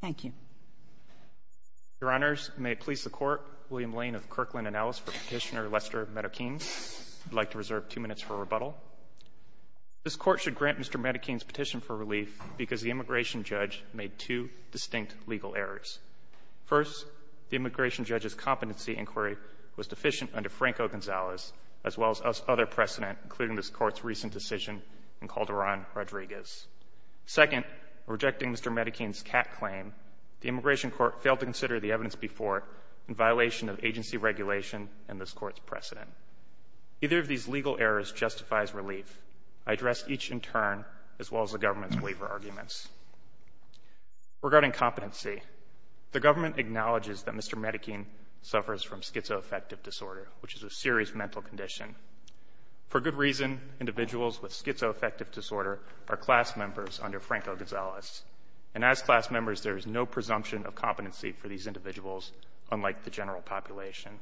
Thank you. Your Honors, may it please the Court, William Lane of Kirkland & Ellis for Petitioner Lester Marroquin. I'd like to reserve two minutes for rebuttal. This Court should grant Mr. Marroquin's petition for relief because the immigration judge made two distinct legal errors. First, the immigration judge's competency inquiry was deficient under Franco Gonzalez, as well as other precedent, including this Court's recent decision in Calderon-Rodriguez. Second, in rejecting Mr. Marroquin's CAT claim, the immigration court failed to consider the evidence before in violation of agency regulation and this Court's precedent. Either of these legal errors justifies relief. I address each in turn, as well as the government's waiver arguments. Regarding competency, the government acknowledges that Mr. Marroquin suffers from schizoaffective disorder, which is a serious mental condition. For good reason, individuals with schizoaffective disorder are class members under Franco Gonzalez. And as class members, there is no presumption of competency for these individuals, unlike the general population.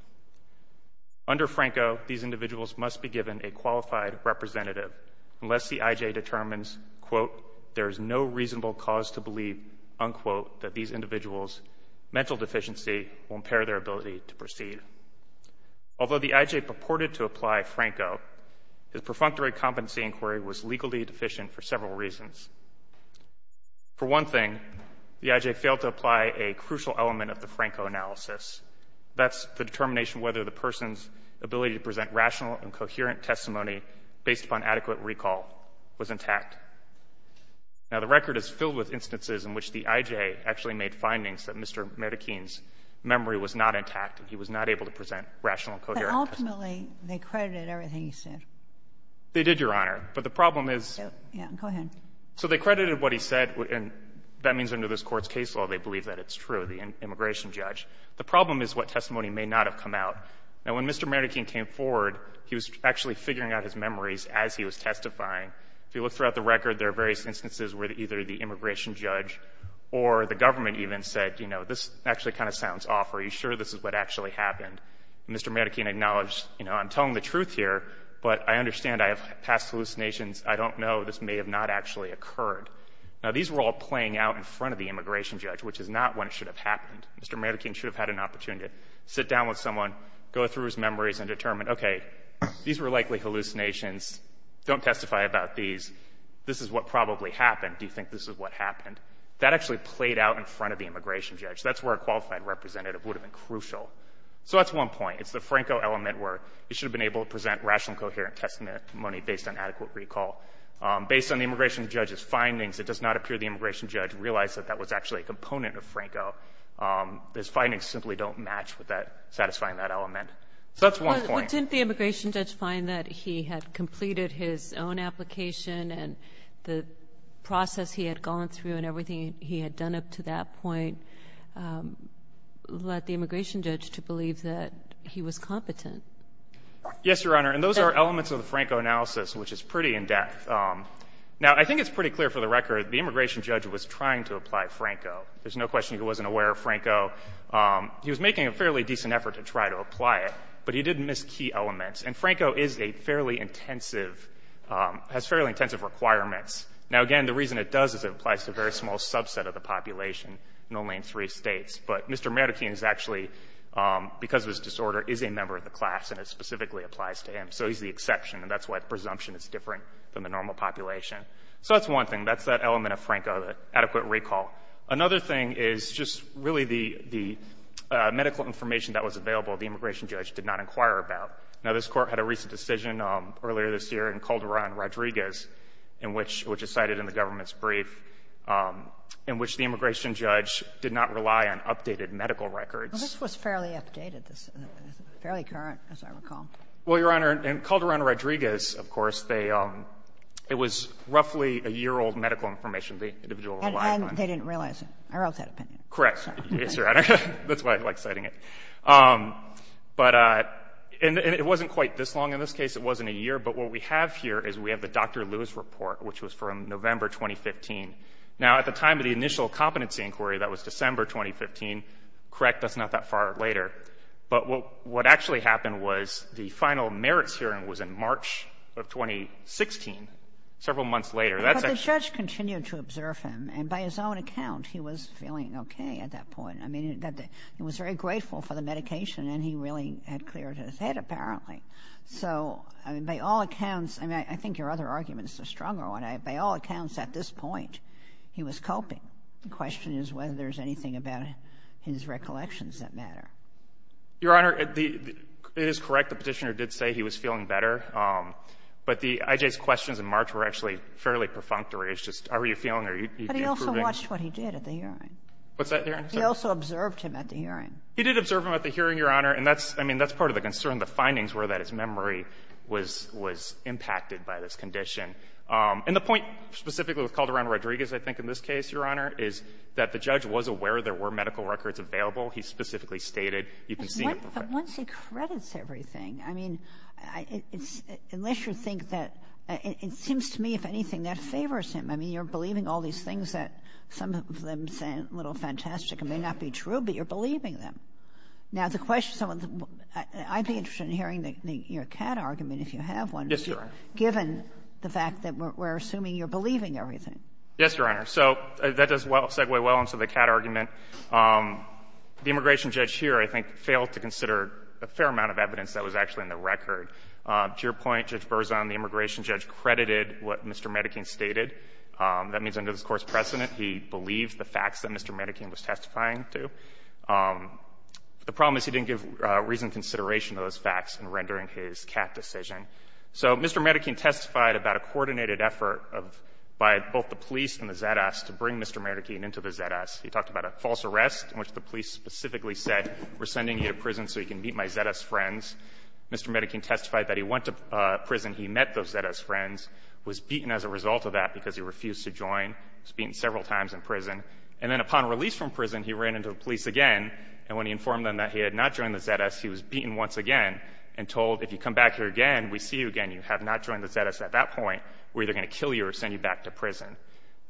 Under Franco, these individuals must be given a qualified representative unless the IJ determines, quote, there is no reasonable cause to believe, unquote, that these individuals' mental deficiency will impair their ability to proceed. Although the IJ purported to apply Franco, his perfunctory competency inquiry was legally deficient for several reasons. For one thing, the IJ failed to apply a crucial element of the Franco analysis. That's the determination whether the person's ability to present rational and coherent testimony, based upon adequate recall, was intact. Now, the record is filled with instances in which the IJ actually made findings that Mr. Marroquin's memory was not intact and he was not able to present rational and coherent testimony. But ultimately, they credited everything he said. They did, Your Honor. But the problem is — Go ahead. So they credited what he said, and that means under this Court's case law, they believe that it's true, the immigration judge. The problem is what testimony may not have come out. Now, when Mr. Marroquin came forward, he was actually figuring out his memories as he was testifying. If you look throughout the record, there are various instances where either the immigration judge or the government even said, you know, this actually kind of sounds off. Are you sure this is what actually happened? Mr. Marroquin acknowledged, you know, I'm telling the truth here, but I understand I have passed hallucinations. I don't know. This may have not actually occurred. Now, these were all playing out in front of the immigration judge, which is not when it should have happened. Mr. Marroquin should have had an opportunity to sit down with someone, go through his memories and determine, okay, these were likely hallucinations. Don't testify about these. This is what probably happened. Do you think this is what happened? That actually played out in front of the immigration judge. That's where a qualified representative would have been crucial. So that's one point. It's the Franco element where he should have been able to present rational and coherent testimony based on adequate recall. Based on the immigration judge's findings, it does not appear the immigration judge realized that that was actually a component of Franco. His findings simply don't match with satisfying that element. So that's one point. Didn't the immigration judge find that he had completed his own application and the process he had gone through and everything he had done up to that point led the immigration judge to believe that he was competent? Yes, Your Honor. And those are elements of the Franco analysis, which is pretty in-depth. Now, I think it's pretty clear for the record the immigration judge was trying to apply Franco. There's no question he wasn't aware of Franco. He was making a fairly decent effort to try to apply it, but he did miss key elements. And Franco is a fairly intensive, has fairly intensive requirements. Now, again, the reason it does is it applies to a very small subset of the population, normally in three states. But Mr. Marroquin is actually, because of his disorder, is a member of the class, and it specifically applies to him. So he's the exception, and that's why the presumption is different than the normal population. So that's one thing. That's that element of Franco, the adequate recall. Another thing is just really the medical information that was available the immigration judge did not inquire about. Now, this Court had a recent decision earlier this year in Calderon-Rodriguez, which is cited in the government's brief, in which the immigration judge did not rely on updated medical records. Well, this was fairly updated, fairly current, as I recall. Well, Your Honor, in Calderon-Rodriguez, of course, it was roughly a year-old medical information the individual relied on. And they didn't realize it. I wrote that opinion. Correct. Yes, Your Honor. That's why I like citing it. But it wasn't quite this long in this case. It wasn't a year. But what we have here is we have the Dr. Lewis report, which was from November 2015. Now, at the time of the initial competency inquiry, that was December 2015. Correct, that's not that far later. But what actually happened was the final merits hearing was in March of 2016, several months later. But the judge continued to observe him, and by his own account, he was feeling okay at that point. I mean, he was very grateful for the medication, and he really had cleared his head, apparently. So, I mean, by all accounts, I mean, I think your other arguments are stronger. By all accounts, at this point, he was coping. The question is whether there's anything about his recollections that matter. Your Honor, it is correct. The Petitioner did say he was feeling better. But the IJ's questions in March were actually fairly perfunctory. It's just, are you feeling, are you improving? But he also watched what he did at the hearing. What's that, Your Honor? He also observed him at the hearing. He did observe him at the hearing, Your Honor. And that's, I mean, that's part of the concern. The findings were that his memory was impacted by this condition. And the point specifically with Calderon-Rodriguez, I think, in this case, Your Honor, is that the judge was aware there were medical records available. He specifically stated, you can see it. But once he credits everything, I mean, unless you think that — it seems to me, if anything, that favors him. I mean, you're believing all these things that some of them sound a little fantastic and may not be true, but you're believing them. Now, the question — I'd be interested in hearing your Catt argument, if you have one. Yes, Your Honor. Given the fact that we're assuming you're believing everything. Yes, Your Honor. So that does segue well into the Catt argument. The immigration judge here, I think, failed to consider a fair amount of evidence that was actually in the record. To your point, Judge Berzon, the immigration judge credited what Mr. Medekine stated. That means under this Court's precedent, he believed the facts that Mr. Medekine was testifying to. The problem is he didn't give reasoned consideration to those facts in rendering his Catt decision. So Mr. Medekine testified about a coordinated effort by both the police and the ZS to bring Mr. Medekine into the ZS. He talked about a false arrest in which the police specifically said, we're sending you to prison so you can meet my ZS friends. Mr. Medekine testified that he went to prison, he met those ZS friends, was beaten as a result of that because he refused to join. He was beaten several times in prison. And then upon release from prison, he ran into the police again. And when he informed them that he had not joined the ZS, he was beaten once again and told, if you come back here again, we see you again. You have not joined the ZS at that point. We're either going to kill you or send you back to prison.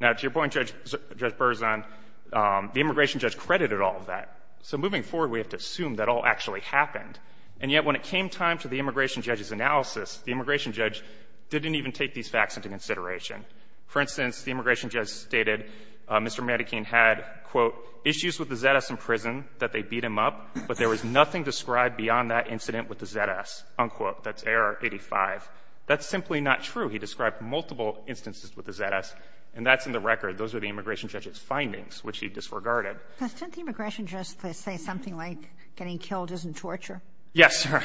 Now, to your point, Judge Berzon, the immigration judge credited all of that. So moving forward, we have to assume that all actually happened. And yet when it came time to the immigration judge's analysis, the immigration judge didn't even take these facts into consideration. For instance, the immigration judge stated Mr. Medekine had, quote, issues with the ZS in prison that they beat him up, but there was nothing described beyond that incident with the ZS, unquote. That's AR-85. That's simply not true. He described multiple instances with the ZS. And that's in the record. Those are the immigration judge's findings, which he disregarded. Sotomayor, didn't the immigration judge say something like getting killed isn't torture? Yes, sir.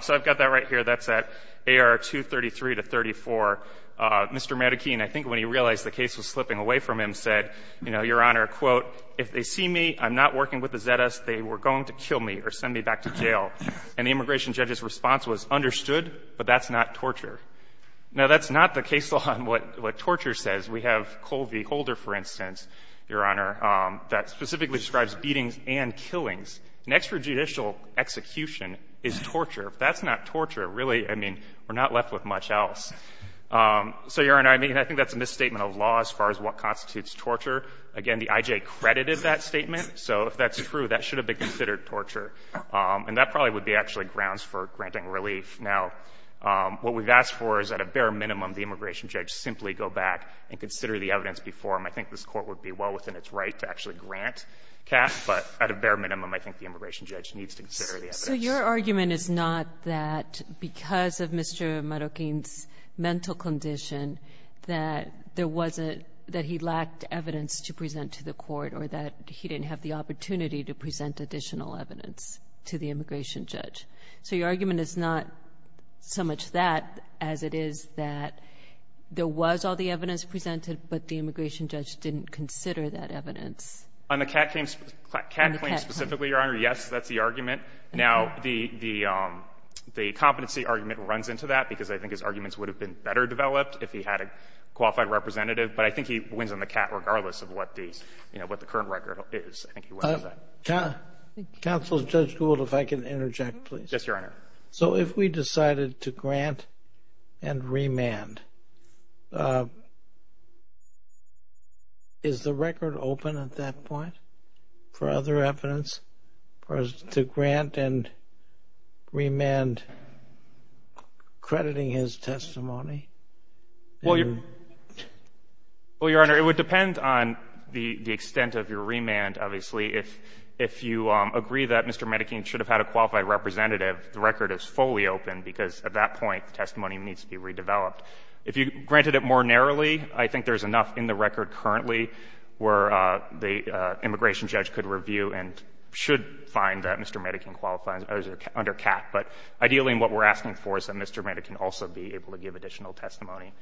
So I've got that right here. That's at AR-233 to 34. Mr. Medekine, I think when he realized the case was slipping away from him, said, you know, Your Honor, quote, if they see me, I'm not working with the ZS, they were going to kill me or send me back to jail. And the immigration judge's response was, understood, but that's not torture. Now, that's not the case law on what torture says. We have Cole v. Holder, for instance, Your Honor, that specifically describes beatings and killings. An extrajudicial execution is torture. If that's not torture, really, I mean, we're not left with much else. So, Your Honor, I mean, I think that's a misstatement of law as far as what constitutes torture. Again, the IJ credited that statement. So if that's true, that should have been considered torture. And that probably would be actually grounds for granting relief. Now, what we've asked for is, at a bare minimum, the immigration judge simply go back and consider the evidence before him. I think this Court would be well within its right to actually grant cash, but at a bare minimum, I think the immigration judge needs to consider the evidence. So your argument is not that because of Mr. Medekine's mental condition that there wasn't – that he lacked evidence to present to the Court or that he didn't have the opportunity to present additional evidence to the immigration judge. So your argument is not so much that as it is that there was all the evidence presented, but the immigration judge didn't consider that evidence. On the cat claims specifically, Your Honor, yes, that's the argument. Now, the competency argument runs into that because I think his arguments would have been better developed if he had a qualified representative. But I think he wins on the cat regardless of what the, you know, what the current record is. I think he wins on that. Counsel, Judge Gould, if I can interject, please. Yes, Your Honor. So if we decided to grant and remand, is the record open at that point for other evidence as to grant and remand crediting his testimony? Well, Your Honor, it would depend on the extent of your remand, obviously. If you agree that Mr. Medekine should have had a qualified representative, the record is fully open because at that point the testimony needs to be redeveloped. If you granted it more narrowly, I think there's enough in the record currently where the immigration judge could review and should find that Mr. Medekine qualifies under cat. But ideally what we're asking for is that Mr. Medekine also be able to give additional testimony.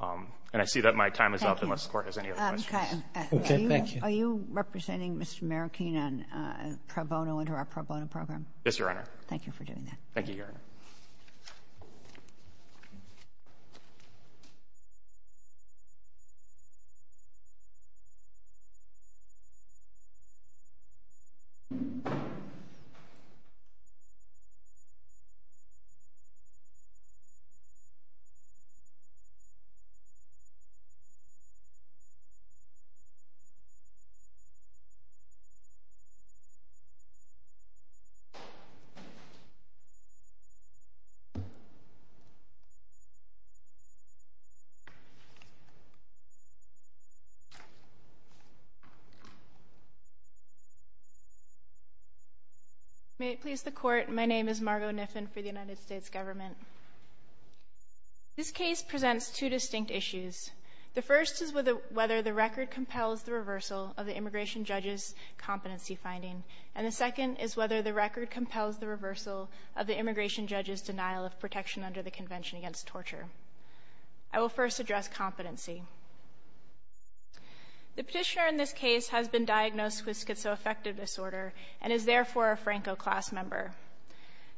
And I see that my time is up unless the Court has any other questions. Okay. Thank you. Are you representing Mr. Medekine on pro bono under our pro bono program? Yes, Your Honor. Thank you for doing that. Thank you, Your Honor. May it please the Court, my name is Margo Nisbet. I'm the plaintiff's attorney and I'm the plaintiff's attorney on behalf of the I'm a plaintiff's attorney and I'm a plaintiff's attorney for the United States government. This case presents two distinct issues. The first is whether the record compels the reversal of the immigration judge's competency finding. And the second is whether the record compels the reversal of the immigration judge's denial of protection under the Convention against Torture. I will first address competency. The petitioner in this case has been diagnosed with schizoaffective disorder and is therefore a Franco class member.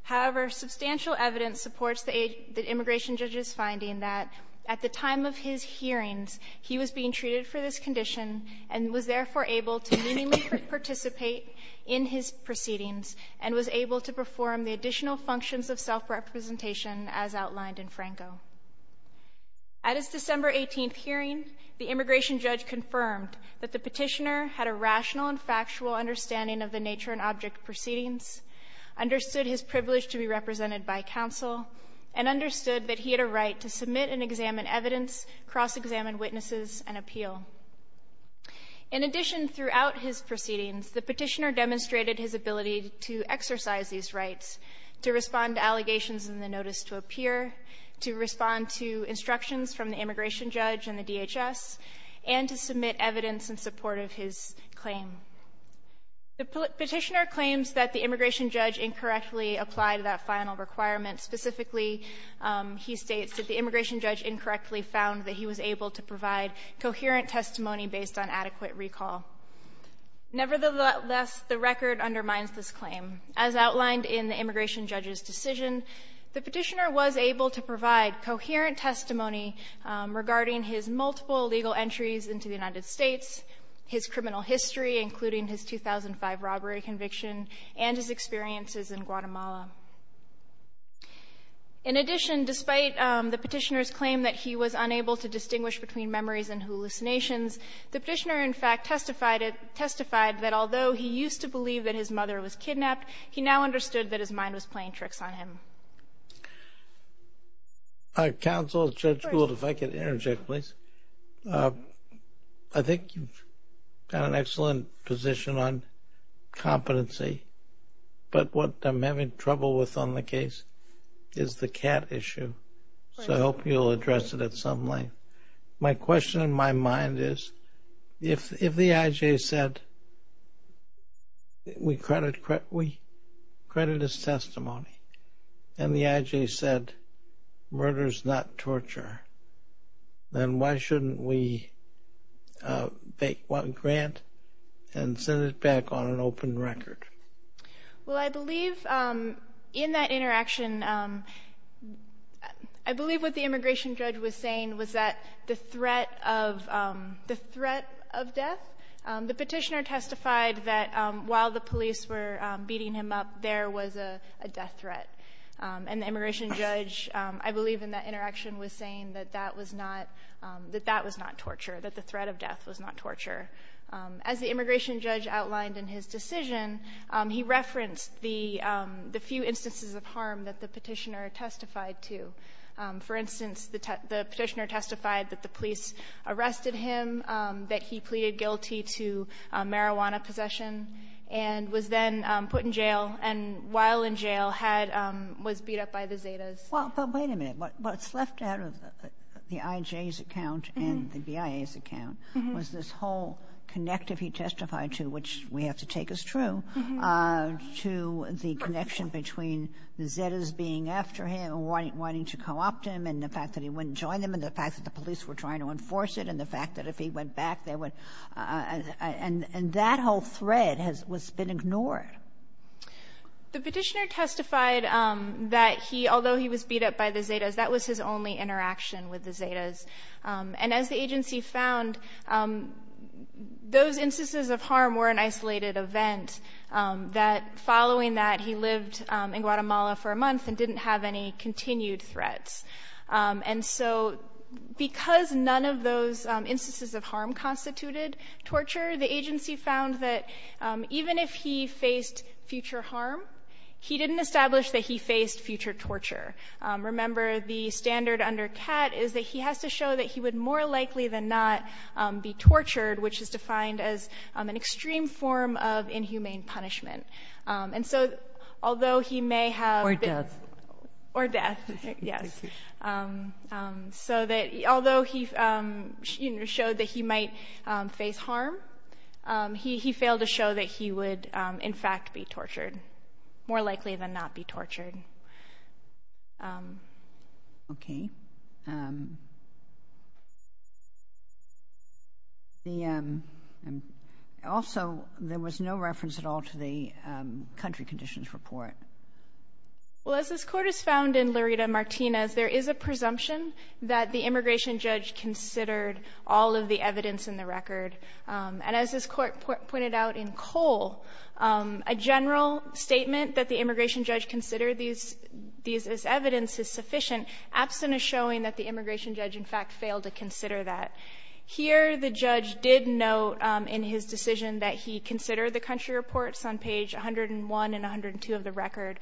However, substantial evidence supports the immigration judge's finding that at the time of his hearings, he was being treated for this condition and was therefore able to meaningfully participate in his proceedings and was able to perform the additional functions of self-representation as outlined in Franco. At his December 18th hearing, the immigration judge confirmed that the petitioner had a rational and factual understanding of the nature and object of proceedings, understood his privilege to be represented by counsel, and understood that he had a right to submit and examine evidence, cross-examine witnesses, and appeal. In addition, throughout his proceedings, the petitioner demonstrated his ability to exercise these rights, to respond to allegations in the notice to appear, to respond to instructions from the immigration judge and the DHS, and to submit evidence in support of his claim. The petitioner claims that the immigration judge incorrectly applied that final requirement. Specifically, he states that the immigration judge incorrectly found that he was able to provide coherent testimony based on adequate recall. Nevertheless, the record undermines this claim. As outlined in the immigration judge's decision, the petitioner was able to provide coherent testimony regarding his multiple legal entries into the United States, his criminal history, including his 2005 robbery conviction, and his experiences in Guatemala. In addition, despite the petitioner's claim that he was unable to distinguish between memories and hallucinations, the petitioner, in fact, testified that although he used to believe that his mother was kidnapped, he now understood that his mind was playing tricks on him. Counsel, Judge Gould, if I could interject, please. I think you've got an excellent position on competency, but what I'm having trouble with on the case is the cat issue. So I hope you'll address it at some length. My question in my mind is if the IJ said we credit his testimony and the IJ said murder is not torture, then why shouldn't we make one grant and send it back on an open record? Well, I believe in that interaction, I believe what the immigration judge was saying was that the threat of death, the petitioner testified that while the police were beating him up, there was a death threat. And the immigration judge, I believe in that interaction, was saying that that was not torture, that the threat of death was not torture. As the immigration judge outlined in his decision, he referenced the few instances of harm that the petitioner testified to. For instance, the petitioner testified that the police arrested him, that he pleaded guilty to marijuana possession and was then put in jail and while in jail was beat up by the Zetas. Well, but wait a minute. What's left out of the IJ's account and the BIA's account was this whole connective he testified to, which we have to take as true, to the connection between the Zetas being after him and wanting to co-opt him and the fact that he wouldn't join them and the fact that the police were trying to enforce it and the fact that if he went back, they would. And that whole thread has been ignored. The petitioner testified that he, although he was beat up by the Zetas, that was his only interaction with the Zetas. And as the agency found, those instances of harm were an isolated event, that following that, he lived in Guatemala for a month and didn't have any continued threats. And so because none of those instances of harm constituted torture, the agency found that even if he faced future harm, he didn't establish that he faced future torture. Remember, the standard under CAT is that he has to show that he would more likely than not be tortured, which is defined as an extreme form of inhumane punishment. And so, although he may have... Or death. Or death, yes. So that although he showed that he might face harm, he failed to show that he would in fact be tortured, more likely than not be tortured. Okay. And also, there was no reference at all to the country conditions report. Well, as this Court has found in Lurita-Martinez, there is a presumption that the immigration judge considered all of the evidence in the record. And as this Court pointed out in Cole, a general statement that the immigration judge considered these as evidence is sufficient, absent of showing that the immigration judge in fact failed to consider that. Here, the judge did note in his decision that he considered the country reports on page 101 and 102 of the record.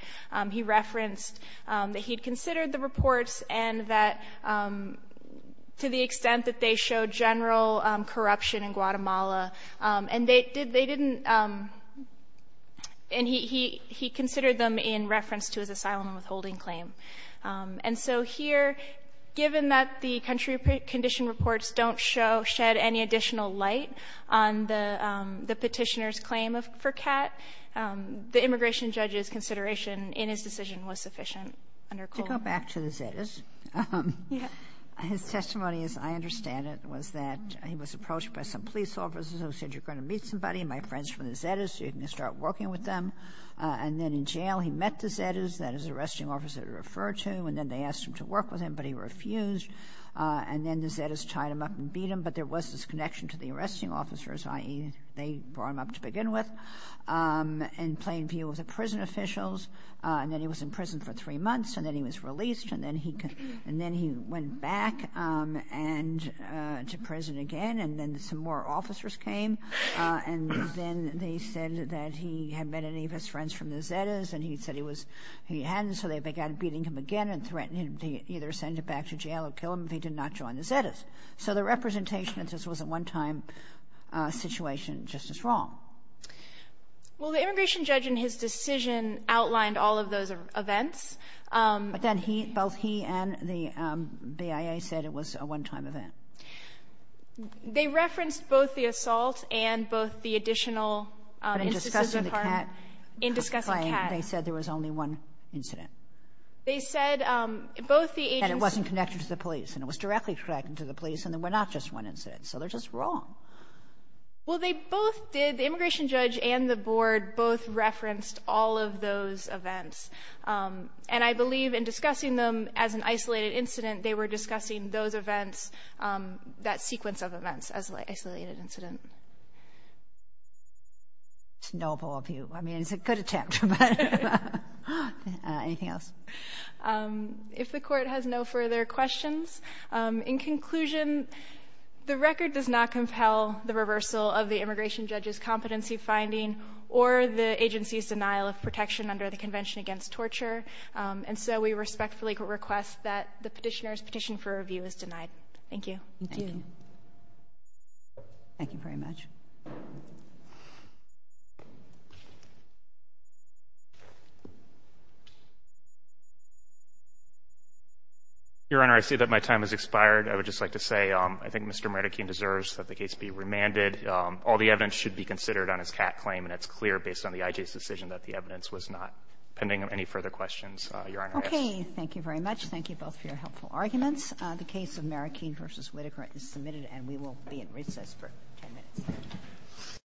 He referenced that he'd considered the reports and that to the extent that they showed general corruption in Guatemala. And they didn't... And he considered them in reference to his asylum and withholding claim. And so here, given that the country condition reports don't show, shed any additional light on the petitioner's claim for CAT, the immigration judge's consideration in his decision was sufficient under Cole. To go back to the Zetas, his testimony, as I understand it, was that he was approached by some police officers who said, you're going to meet somebody, my friends from the Zetas, you're going to start working with them. And then in jail, he met the Zetas, that is, the arresting officer he referred to, and then they asked him to work with him, but he refused. And then the Zetas tied him up and beat him. But there was this connection to the arresting officers, i.e., they brought him up to begin with, in plain view of the prison officials. And then he was in prison for three months, and then he was released, and then he went back and to prison again, and then some more officers came. And then they said that he had met any of his friends from the Zetas, and he said he was he hadn't, so they began beating him again and threatening to either send him back to jail or kill him if he did not join the Zetas. So the representation of this was a one-time situation just as wrong. Well, the immigration judge in his decision outlined all of those events. But then both he and the BIA said it was a one-time event. They referenced both the assault and both the additional instances of harm. But in discussing the cat playing, they said there was only one incident. They said both the agents... And it wasn't connected to the police, and it was directly connected to the police, and there were not just one incident, so they're just wrong. Well, they both did. The immigration judge and the board both referenced all of those events. And I believe in discussing them as an isolated incident, they were discussing those events, that sequence of events, as an isolated incident. It's noble of you. I mean, it's a good attempt. Anything else? If the Court has no further questions, in conclusion, the record does not compel the reversal of the immigration judge's competency finding or the agency's denial of protection under the Convention Against Torture. And so we respectfully request that the Petitioner's petition for review is denied. Thank you. Thank you. Thank you very much. Your Honor, I see that my time has expired. I would just like to say I think Mr. Marroquin deserves that the case be remanded. All the evidence should be considered on his CAT claim, and it's clear based on the IJ's decision that the evidence was not. Pending any further questions, Your Honor, I ask. Okay. Thank you very much. Thank you both for your helpful arguments. The case of Marroquin v. Whitaker is submitted, and we will be in recess for 10 minutes.